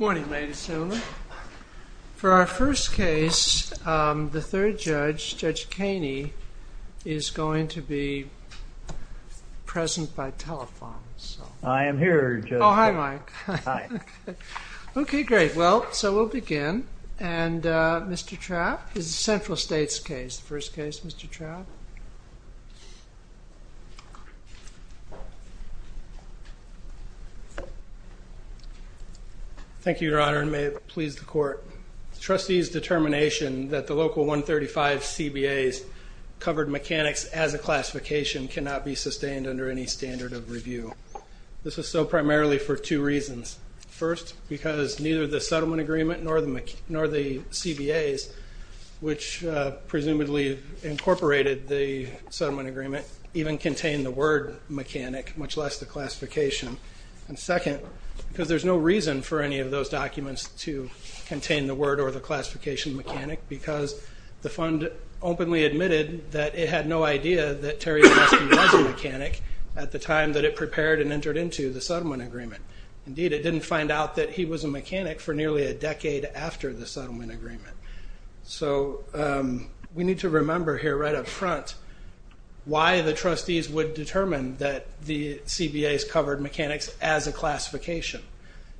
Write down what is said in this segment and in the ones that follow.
Morning ladies and gentlemen. For our first case, the third judge, Judge Kaney, is going to be present by telephone. I am here, Judge. Oh, hi Mike. Hi. Okay, great. Well, so we'll begin. And Mr. Trapp, this is a Central States case, the first case, Mr. Trapp. Thank you, Your Honor, and may it please the court. Trustees' determination that the local 135CBAs covered mechanics as a classification cannot be sustained under any standard of review. This is so primarily for two reasons. First, because neither the settlement agreement nor the CBAs, which presumably incorporated the settlement agreement, even contain the word mechanic, much less the classification. And second, because there's no reason for any of those documents to contain the word or the classification mechanic, because the fund openly admitted that it had no idea that Terry Gillespie was a mechanic at the time that it prepared and entered into the settlement agreement. Indeed, it didn't find out that he was a mechanic for nearly a decade after the settlement agreement. So we need to remember here right up front why the trustees would determine that the CBAs covered mechanics as a classification.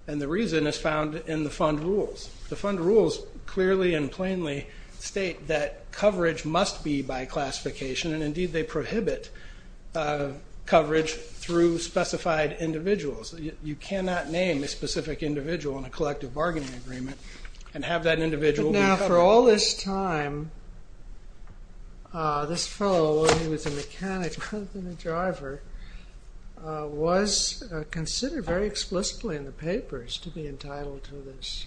And the reason is found in the fund rules. The fund rules clearly and plainly state that coverage must be by classification, and indeed they prohibit coverage through specified individuals. You cannot name a specific individual in a collective bargaining agreement and have that individual be covered. But now, for all this time, this fellow, while he was a mechanic rather than a driver, was considered very explicitly in the papers to be entitled to this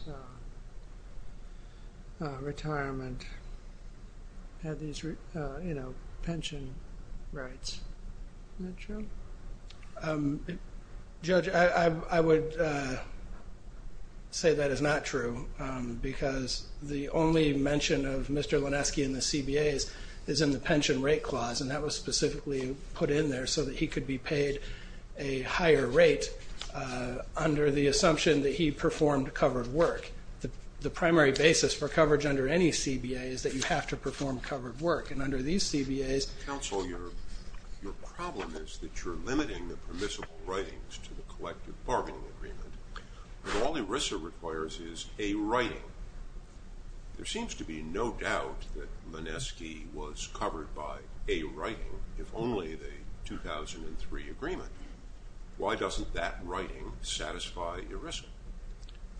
retirement, had these pension rights. Isn't that true? Judge, I would say that is not true, because the only mention of Mr. Lanesky in the CBAs is in the pension rate clause, and that was specifically put in there so that he could be paid a higher rate under the assumption that he performed covered work. The primary basis for coverage under any CBA is that you have to perform covered work, and under these CBAs...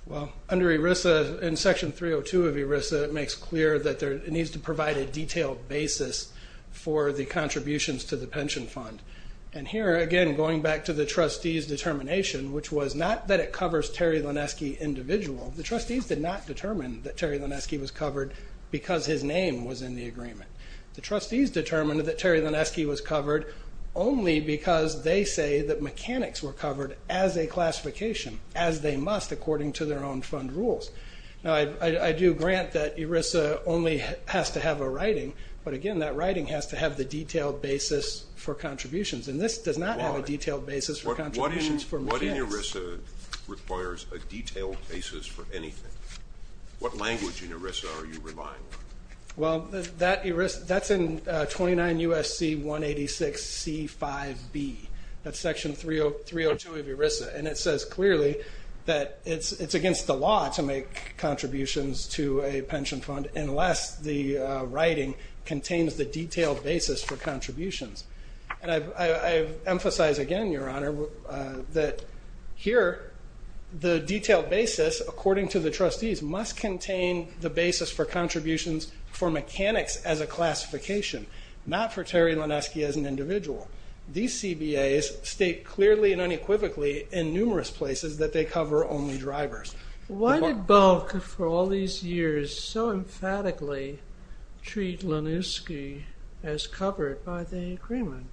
Well, under ERISA, in Section 302 of ERISA, it makes clear that it needs to provide a detailed basis for the contributions to the pension fund. Here, again, going back to the trustees' determination, which was not that it covers Terry Lanesky individual. The trustees did not determine that Terry Lanesky was covered because his name was in the agreement. The trustees determined that Terry Lanesky was covered only because they say that mechanics were covered as a classification, as they must according to their own fund rules. I do grant that ERISA only has to have a writing, but again, that writing has to have the detailed basis for contributions, and this does not have a detailed basis for contributions for mechanics. What in ERISA requires a detailed basis for anything? What language in ERISA are you relying on? Well, that's in 29 U.S.C. 186 C5b. That's Section 302 of ERISA, and it says clearly that it's against the law to make contributions to a pension fund unless the writing contains the detailed basis for contributions. I emphasize again, Your Honor, that here, the detailed basis according to the trustees must contain the basis for contributions for mechanics as a classification, not for Terry Lanesky as an individual. These CBAs state clearly and unequivocally in numerous places that they cover only drivers. Why did Bulk, for all these years, so emphatically treat Lanesky as covered by the agreement?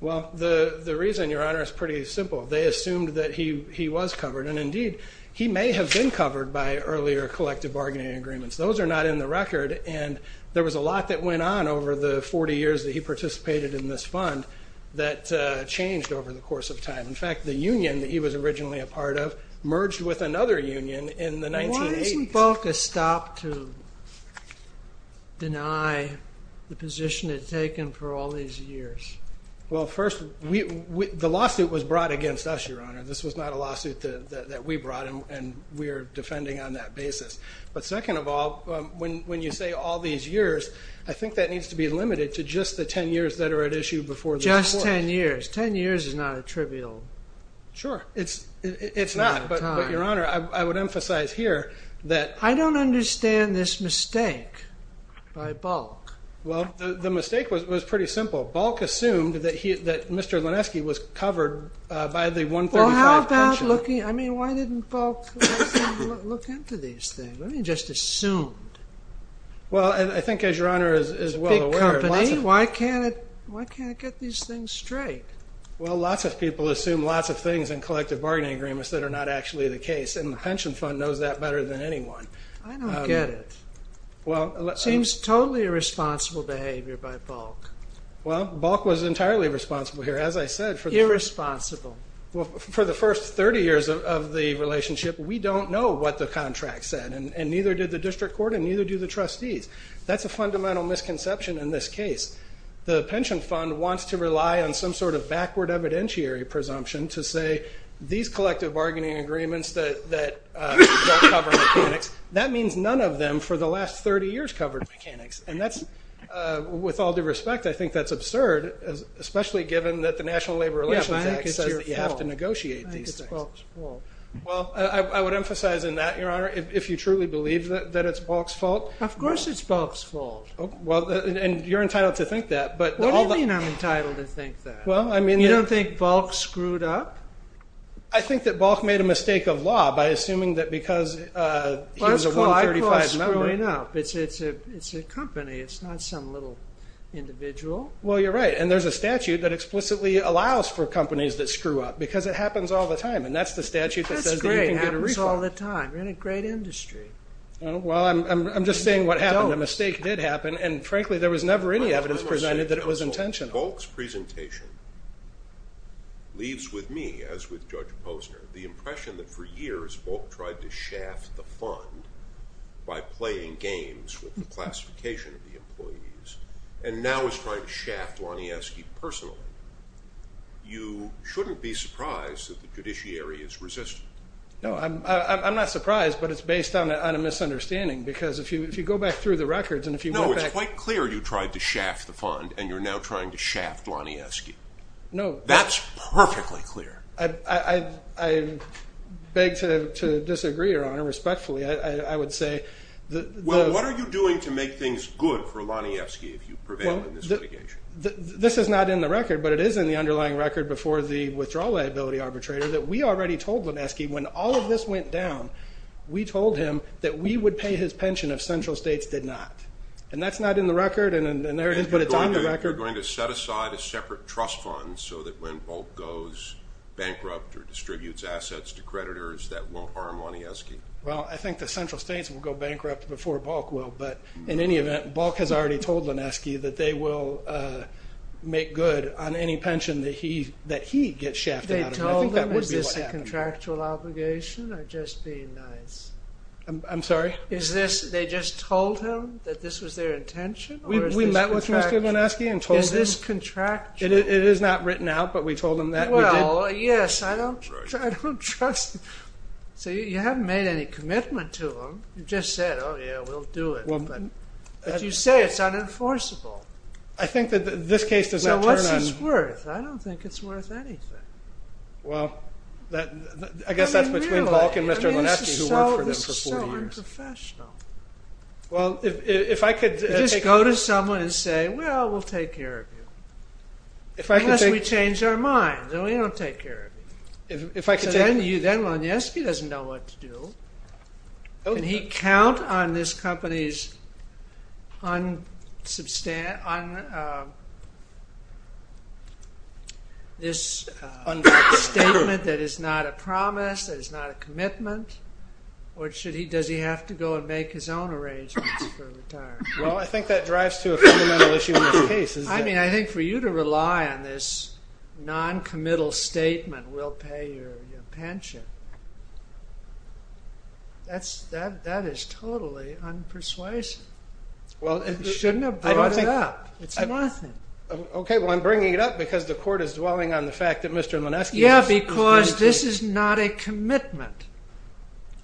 Well, the reason, Your Honor, is pretty simple. They assumed that he was covered, and indeed, he may have been covered by earlier collective bargaining agreements. Those are not in the record, and there was a lot that went on over the 40 years that he participated in this fund that changed over the course of time. In fact, the union that he was originally a part of merged with another union in the 1980s. Why didn't Bulk stop to deny the position it had taken for all these years? Well, first, the lawsuit was brought against us, Your Honor. This was not a lawsuit that we brought, and we are defending on that basis. But second of all, when you say all these years, I think that needs to be limited to just the 10 years that are at issue before the court. Just 10 years. 10 years is not a trivial amount of time. Sure, it's not, but, Your Honor, I would emphasize here that... I don't understand this mistake by Bulk. Well, the mistake was pretty simple. Bulk assumed that Mr. Lanesky was covered by the 135 pension. Well, how about looking... I mean, why didn't Bulk look into these things? Why didn't he just assume? Well, I think, as Your Honor is well aware... Big company. Why can't it get these things straight? Well, lots of people assume lots of things in collective bargaining agreements that are not actually the case, and the pension fund knows that better than anyone. I don't get it. Seems totally irresponsible behavior by Bulk. Well, Bulk was entirely responsible here. As I said... Irresponsible. Well, for the first 30 years of the relationship, we don't know what the contract said, and neither did the district court, and neither do the trustees. That's a fundamental misconception in this case. The pension fund wants to rely on some sort of backward evidentiary presumption to say these collective bargaining agreements that don't cover mechanics, that means none of them for the last 30 years covered mechanics, and that's... With all due respect, I think that's absurd, especially given that the National Labor Relations Act says that you have to negotiate these things. Well, I would emphasize in that, Your Honor, if you truly believe that it's Bulk's fault... Of course it's Bulk's fault. And you're entitled to think that, but... What do you mean I'm entitled to think that? You don't think Bulk screwed up? I think that Bulk made a mistake of law by assuming that because he was a 135 member... Well, that's what I call screwing up. It's a company. It's not some little individual. Well, you're right, and there's a statute that explicitly allows for companies that screw up, because it happens all the time, and that's the statute that says that you can get a refund. That's great. It happens all the time. You're in a great industry. Well, I'm just saying what happened, a mistake did happen, and frankly, there was never any evidence presented that it was intention. Bulk's presentation leaves with me, as with Judge Posner, the impression that for years Bulk tried to shaft the fund by playing games with the classification of the employees, and now is trying to shaft Lanieski personally. You shouldn't be surprised that the judiciary is resistant. No, I'm not surprised, but it's based on a misunderstanding, because if you go back through the records and if you go back... No, it's quite clear you tried to shaft the fund, and you're now trying to shaft Lanieski. That's perfectly clear. I beg to disagree, Your Honor, respectfully. I would say that... Well, what are you doing to make things good for Lanieski if you prevail in this litigation? This is not in the record, but it is in the underlying record before the withdrawal liability arbitrator that we already told Laneski when all of this went down, we told him that we would pay his pension if central states did not, and that's not in the record, but it's on the record. You're going to set aside a separate trust fund so that when Bulk goes bankrupt or distributes assets to creditors, that won't harm Lanieski? Well, I think the central states will go bankrupt before Bulk will, but in any event, Bulk has already told Laneski that they will make good on any pension that he gets shafted out of Is this a contractual obligation, or just being nice? I'm sorry? Is this, they just told him that this was their intention? We met with Mr. Laneski and told him. Is this contractual? It is not written out, but we told him that we did. Well, yes, I don't trust... So you haven't made any commitment to him. You just said, oh yeah, we'll do it. But you say it's unenforceable. I think that this case does not turn on... So what's it worth? I don't think it's worth anything. Well, I guess that's between Bulk and Mr. Laneski, who worked for them for four years. This is so unprofessional. Well, if I could... Just go to someone and say, well, we'll take care of you, unless we change our minds, and we don't take care of you. If I could take... Then Laneski doesn't know what to do. Can he count on this company's unsubstant... On this statement that is not a promise, that is not a commitment, or should he... Does he have to go and make his own arrangements for retirement? Well, I think that drives to a fundamental issue in this case. I mean, I think for you to rely on this noncommittal statement, we'll pay your pension. That is totally unpersuasive. You shouldn't have brought it up. It's nothing. Okay, well, I'm bringing it up because the court is dwelling on the fact that Mr. Laneski... Yeah, because this is not a commitment.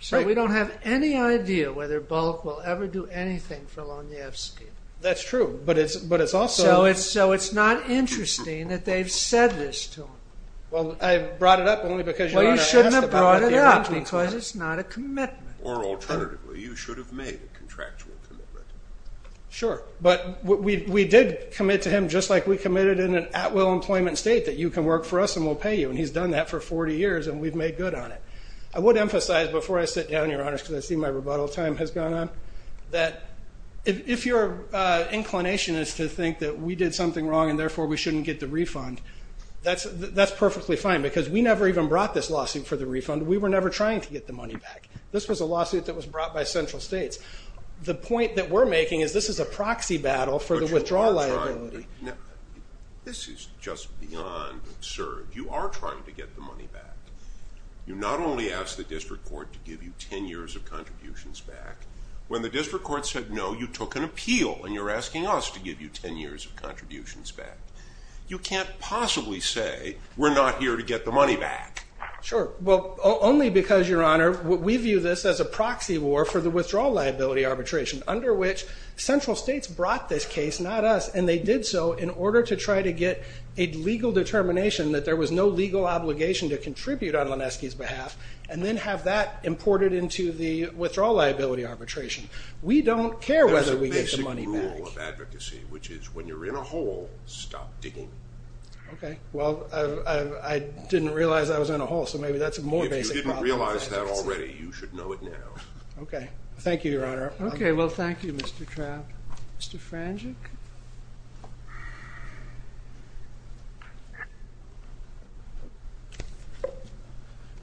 So we don't have any idea whether Bulk will ever do anything for Lonievsky. That's true, but it's also... So it's not interesting that they've said this to him. Well, I brought it up only because... Well, you shouldn't have brought it up because it's not a commitment. Or alternatively, you should have made a contractual commitment. Sure, but we did commit to him just like we committed in an at-will employment state that you can work for us and we'll pay you. And he's done that for 40 years and we've made good on it. I would emphasize before I sit down, Your Honors, because I see my rebuttal time has gone on, that if your inclination is to think that we did something wrong and therefore we shouldn't get the refund, that's perfectly fine because we never even brought this lawsuit for the refund. We were never trying to get the money back. This was a lawsuit that was brought by central states. The point that we're making is this is a proxy battle for the withdrawal liability. But you are trying. This is just beyond absurd. You are trying to get the money back. You not only asked the district court to give you 10 years of contributions back, when the district court said, no, you took an appeal and you're asking us to give you 10 years of contributions back. You can't possibly say we're not here to get the money back. Sure. Well, only because, Your Honor, we view this as a proxy war for the withdrawal liability arbitration, under which central states brought this case, not us, and they did so in order to try to get a legal determination that there was no legal obligation to contribute on Lanesky's behalf and then have that imported into the withdrawal liability arbitration. We don't care whether we get the money back. There's a rule of advocacy, which is when you're in a hole, stop digging. Okay. Well, I didn't realize I was in a hole, so maybe that's a more basic problem. If you didn't realize that already, you should know it now. Okay. Thank you, Your Honor. Okay. Well, thank you, Mr. Trapp. Mr. Frangic?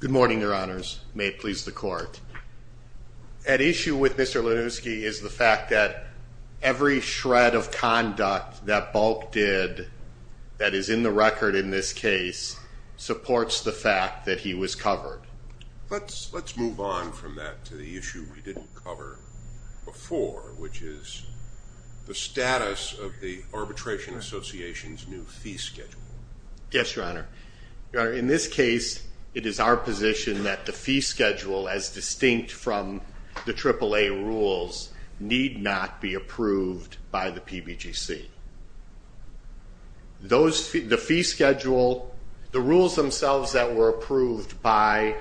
Good morning, Your Honors. May it please the court. At issue with Mr. Lanesky is the fact that every shred of conduct that Bulk did that is in the record in this case supports the fact that he was covered. Let's move on from that to the issue we didn't cover before, which is the status of the Arbitration Association's new fee schedule. Yes, Your Honor. Your Honor, in this case, it is our position that the fee schedule, as distinct from the AAA rules, need not be approved by the PBGC. The fee schedule, the rules themselves that were approved by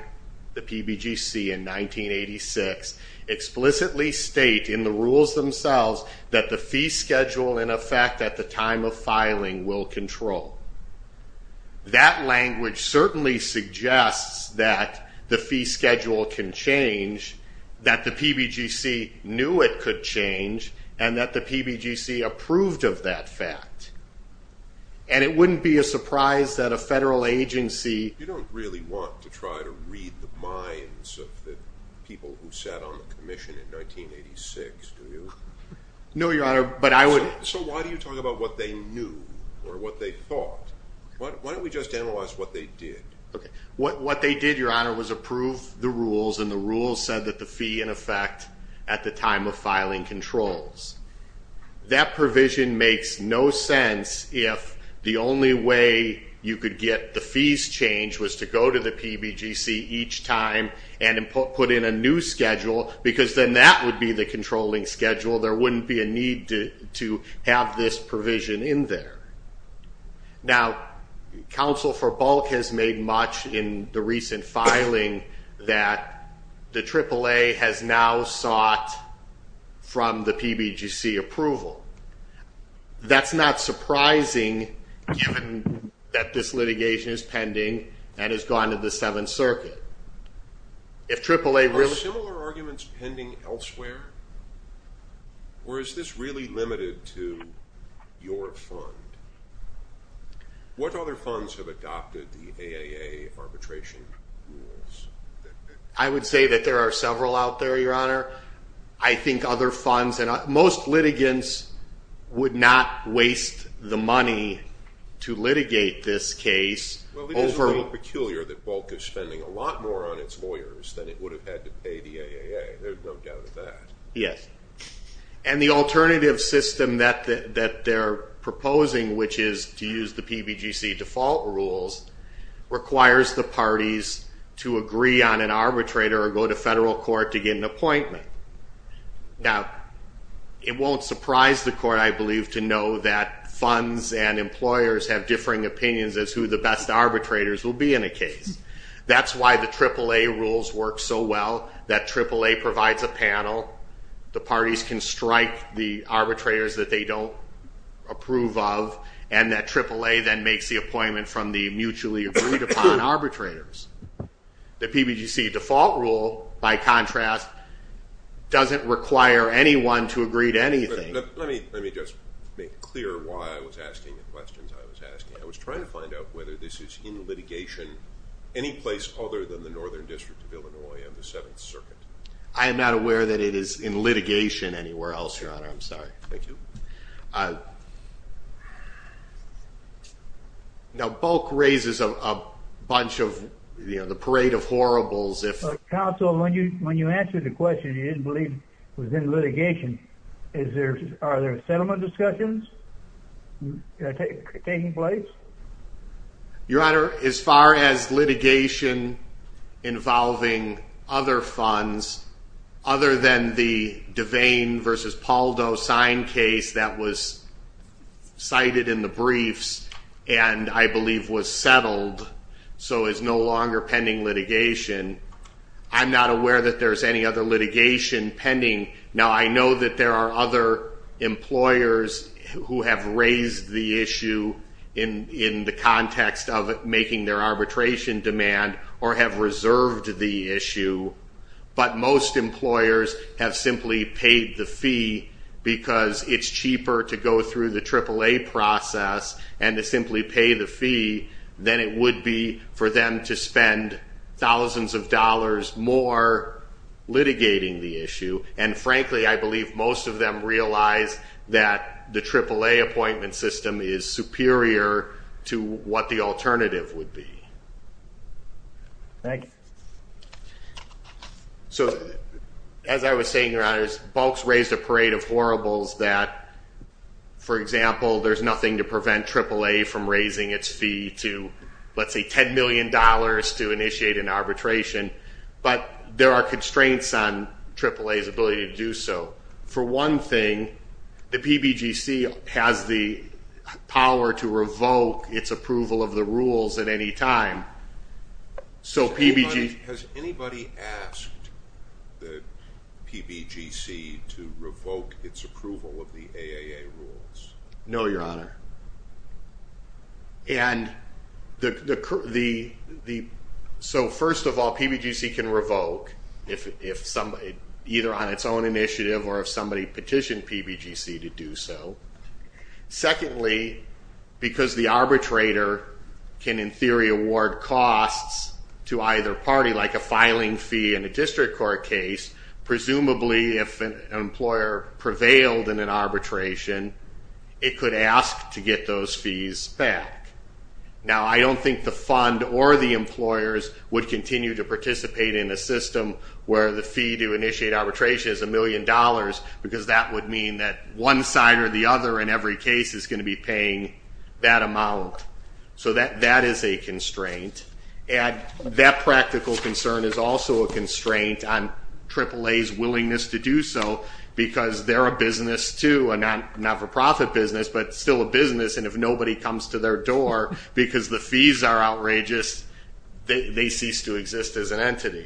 the PBGC in 1986 explicitly state in the rules themselves that the fee schedule, in effect, at the time of filing will control. That language certainly suggests that the fee schedule can change, that the PBGC knew it could change, and that the PBGC approved of that fact. And it wouldn't be a surprise that a federal agency... You don't really want to try to read the minds of the people who sat on the Commission in 1986, do you? No, Your Honor, but I would... So why do you talk about what they knew or what they thought? Why don't we just analyze what they did? What they did, Your Honor, was approve the rules and the rules said that the fee, in effect, at the time of filing controls. That provision makes no sense if the only way you could get the fees changed was to go to the PBGC each time and put in a new schedule because then that would be the controlling schedule. There wouldn't be a need to have this provision in there. Now, Counsel for Bulk has made much in the recent filing that the AAA has now sought from the PBGC approval. That's not surprising given that this litigation is pending and has gone to the Seventh Circuit. Are similar arguments pending elsewhere? Or is this really limited to your fund? What other funds have adopted the AAA arbitration rules? I would say that there are several out there, Your Honor. I think other funds... Most litigants would not waste the money to litigate this case over... Well, it is a little peculiar that Bulk is spending a lot more on its lawyers than it would have had to pay the AAA. There's no doubt of that. Yes. And the alternative system that they're proposing which is to use the PBGC default rules requires the parties to agree on an arbitrator or go to federal court to get an appointment. Now, it won't surprise the court, I believe to know that funds and employers have differing opinions as to who the best arbitrators will be in a case. That's why the AAA rules work so well. That AAA provides a panel. The parties can strike the arbitrators that they don't approve of. And that AAA then makes the appointment from the mutually agreed upon arbitrators. The PBGC default rule, by contrast doesn't require anyone to agree to anything. Let me just make clear why I was asking the questions I was asking. I was trying to find out whether this is in litigation any place other than the Northern District of Illinois and the Seventh Circuit. I am not aware that it is in litigation anywhere else, Your Honor. Thank you. Now, Bulk raises a bunch of the parade of horribles. you didn't believe it was in litigation Are there settlement discussions taking place? Your Honor, as far as litigation involving other funds other than the Devane v. Pauldo signed case that was cited in the briefs and I believe was settled, so is no longer pending litigation I'm not aware that there's any other employers who have raised the issue in the context of making their arbitration demand or have reserved the issue but most employers have simply paid the fee because it's cheaper to go through the AAA process and to simply pay the fee than it would be for them to spend thousands of dollars more litigating the issue and frankly I believe most of them realize that the AAA appointment system is superior to what the alternative would be. Thank you. As I was saying, Your Honor, Bulk's raised a parade of horribles that, for example there's nothing to prevent AAA from raising its fee to let's say $10 million to initiate an and there are constraints on AAA's ability to do so for one thing, the PBGC has the power to revoke its approval of the rules at any time Has anybody asked the PBGC to revoke its approval of the AAA rules? No, Your Honor and so first of all PBGC can revoke either on its own initiative or if somebody petitioned PBGC to do so secondly, because the arbitrator can in theory award costs to either party like a filing fee in a district court case presumably if an employer prevailed in an arbitration, it could ask to get those fees back Now I don't think the fund or the employers would continue to participate in a system where the fee to initiate arbitration is a million dollars because that would mean that one side or the other in every case is going to be paying that amount so that is a constraint and that practical concern is also a constraint on AAA's willingness to do so because they're a business too a not-for-profit business, but still a business and if nobody comes to their door because the fees are outrageous they cease to exist as an entity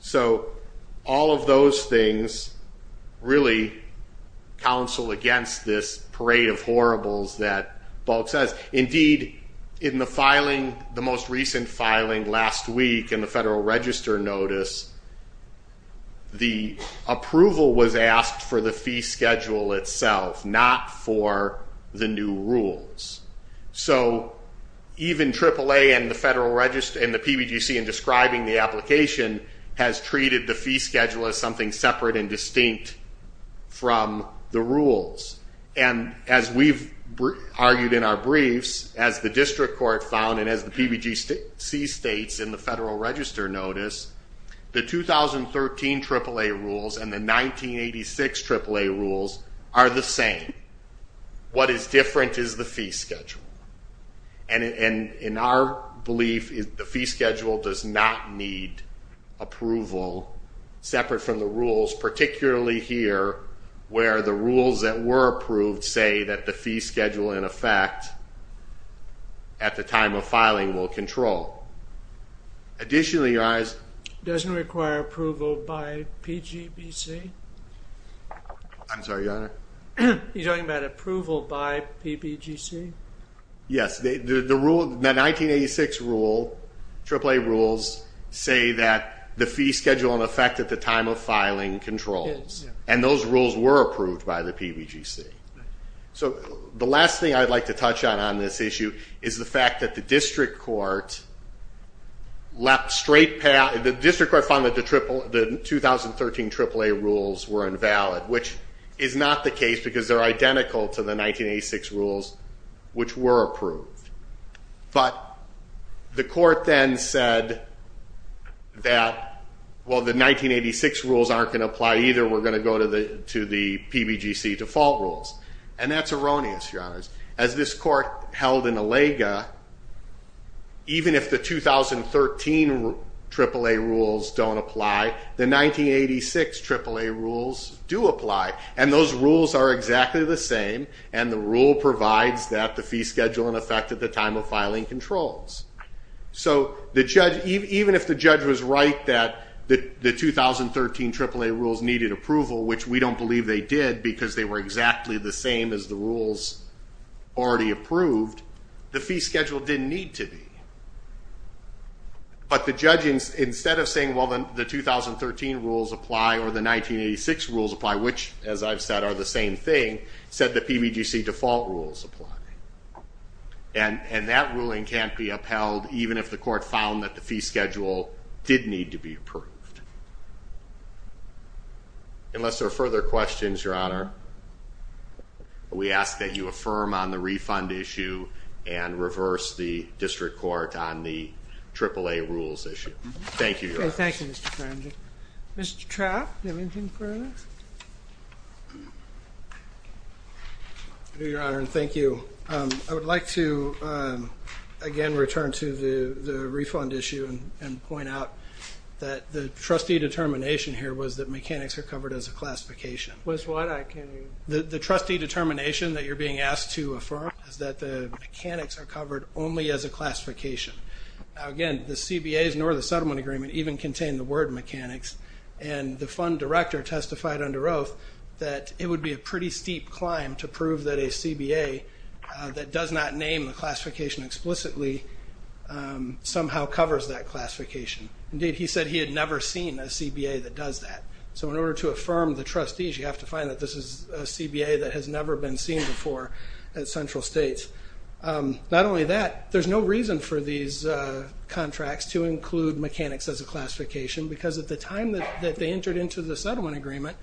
so all of those things really counsel against this parade of horribles that Bulk says Indeed, in the most recent filing last week in the Federal Register notice the approval was asked for the fee schedule itself not for the new rules so even AAA and the PBGC in describing the application has treated the fee schedule as something separate and distinct from the rules and as we've argued in our briefs, as the district court found and as the PBGC states in the Federal Register notice the 2013 AAA rules and the 1986 AAA rules are the same what is different is the fee schedule and in our belief the fee schedule does not need approval separate from the rules particularly here where the rules that were approved say that the fee schedule in effect at the time of filing will control doesn't require approval by PGBC? I'm sorry, your honor He's talking about approval by PBGC? Yes, the 1986 rule AAA rules say that the fee schedule in effect at the time of filing controls and those rules were approved by the PBGC so the last thing I'd like to touch on is the fact that the district court found that the 2013 AAA rules were invalid which is not the case because they're identical to the 1986 rules which were approved but the court then said that the 1986 rules aren't going to apply either and we're going to go to the PBGC default rules and that's erroneous, your honor as this court held in Alaga even if the 2013 AAA rules don't apply the 1986 AAA rules do apply and those rules are exactly the same and the rule provides that the fee schedule in effect at the time of filing controls so even if the judge was right that the 2013 AAA rules needed approval which we don't believe they did because they were exactly the same as the rules already approved the fee schedule didn't need to be but the judge instead of saying the 2013 rules apply or the 1986 rules apply which as I've said are the same thing said the PBGC default rules apply and that ruling can't be upheld even if the court found that the fee schedule did need to be approved unless there are further questions, your honor we ask that you affirm on the refund issue and reverse the district court on the AAA rules issue thank you, your honor Mr. Trapp, do you have anything further? Your honor, thank you I would like to again return to the refund issue and point out that the trustee determination here was that mechanics are covered as a classification the trustee determination that you're being asked to affirm is that the mechanics are covered only as a classification the CBAs nor the settlement agreement even contain the word mechanics and the fund director testified under oath that it would be a pretty steep climb to prove that a CBA that does not name the classification explicitly somehow covers that classification indeed he said he had never seen a CBA that does that so in order to affirm the trustees you have to find that this is a CBA that has never been seen before at central states not only that, there's no reason for these contracts to include mechanics as a classification because at the time that they entered into the settlement agreement,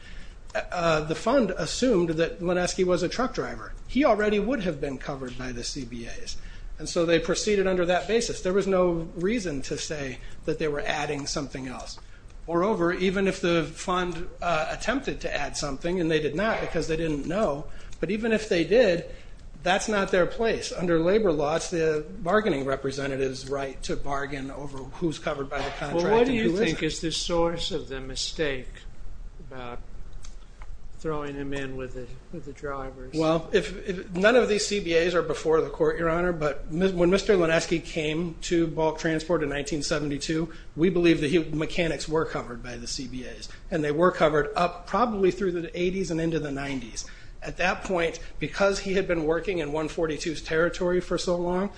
the fund assumed that Lanesky was a truck driver, he already would have been covered by the CBAs and so they proceeded under that basis there was no reason to say that they were adding something else moreover, even if the fund attempted to add something and they did not because they didn't know but even if they did, that's not their place under labor laws, the bargaining representatives right to bargain over who's covered by the contract What do you think is the source of the mistake about throwing him in with the drivers? None of these CBAs are before the court your honor, but when Mr. Lanesky came to bulk transport in 1972, we believe that mechanics were covered by the CBAs and they were covered up probably through the 80s and into the 90s at that point, because he had been working in 142's territory for so long,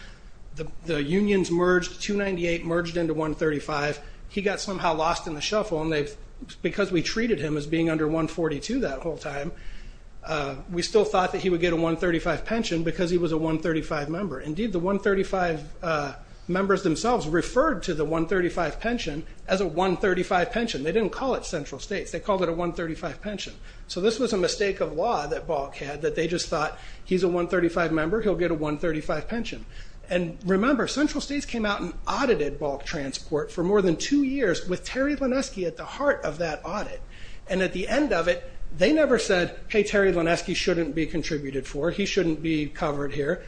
the unions merged, 298 merged into 135 he got somehow lost in the shuffle and because we treated him as being under 142 that whole time we still thought that he would get a 135 pension because he was a 135 member, indeed the 135 members themselves referred to the 135 pension as a 135 pension, they didn't call it central states they called it a 135 pension, so this was a mistake of law that bulk had, that they just thought he's a 135 member he'll get a 135 pension, and remember central states came out and audited bulk transport for more than 2 years with Terry Lanesky at the heart of that audit and at the end of it, they never said, hey Terry Lanesky shouldn't be contributed for, he shouldn't be covered here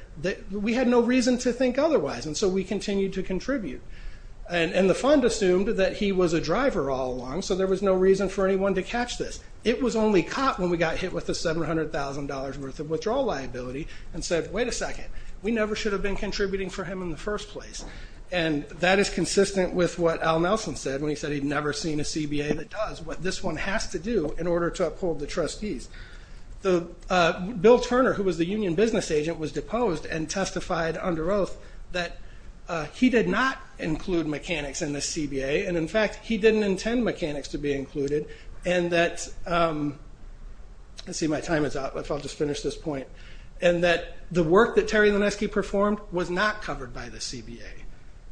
we had no reason to think otherwise, and so we continued to contribute, and the fund assumed that he was a driver all along, so there was no reason for anyone to catch this, it was only caught when we got hit with the $700,000 worth of withdrawal liability and said, wait a second we never should have been contributing for him in the first place and that is consistent with what Al Nelson said when he said he'd never seen a CBA that does what this one has to do in order to uphold the trustees Bill Turner, who was the union business agent was deposed and testified under oath that he did not include mechanics in the CBA, and in fact he didn't intend mechanics to be included, and that let's see, my time is up, I'll just finish this point and that the work that Terry Lanesky performed was not covered by the CBA,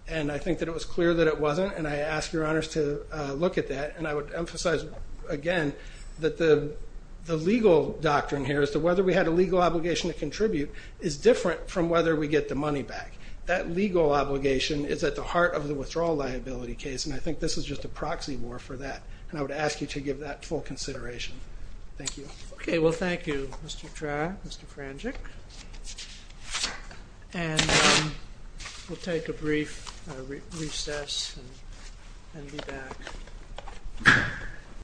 and I think that it was clear that it wasn't, and I ask your honors to look at that and I would emphasize again that the legal doctrine here as to whether we had a legal obligation to contribute is different from whether we get the money back that legal obligation is at the heart of the withdrawal liability case, and I think this is just a proxy war for that and I would ask you to give that full consideration Thank you. Okay, well thank you Mr. Trah Mr. Frangic and we'll take a brief recess and be back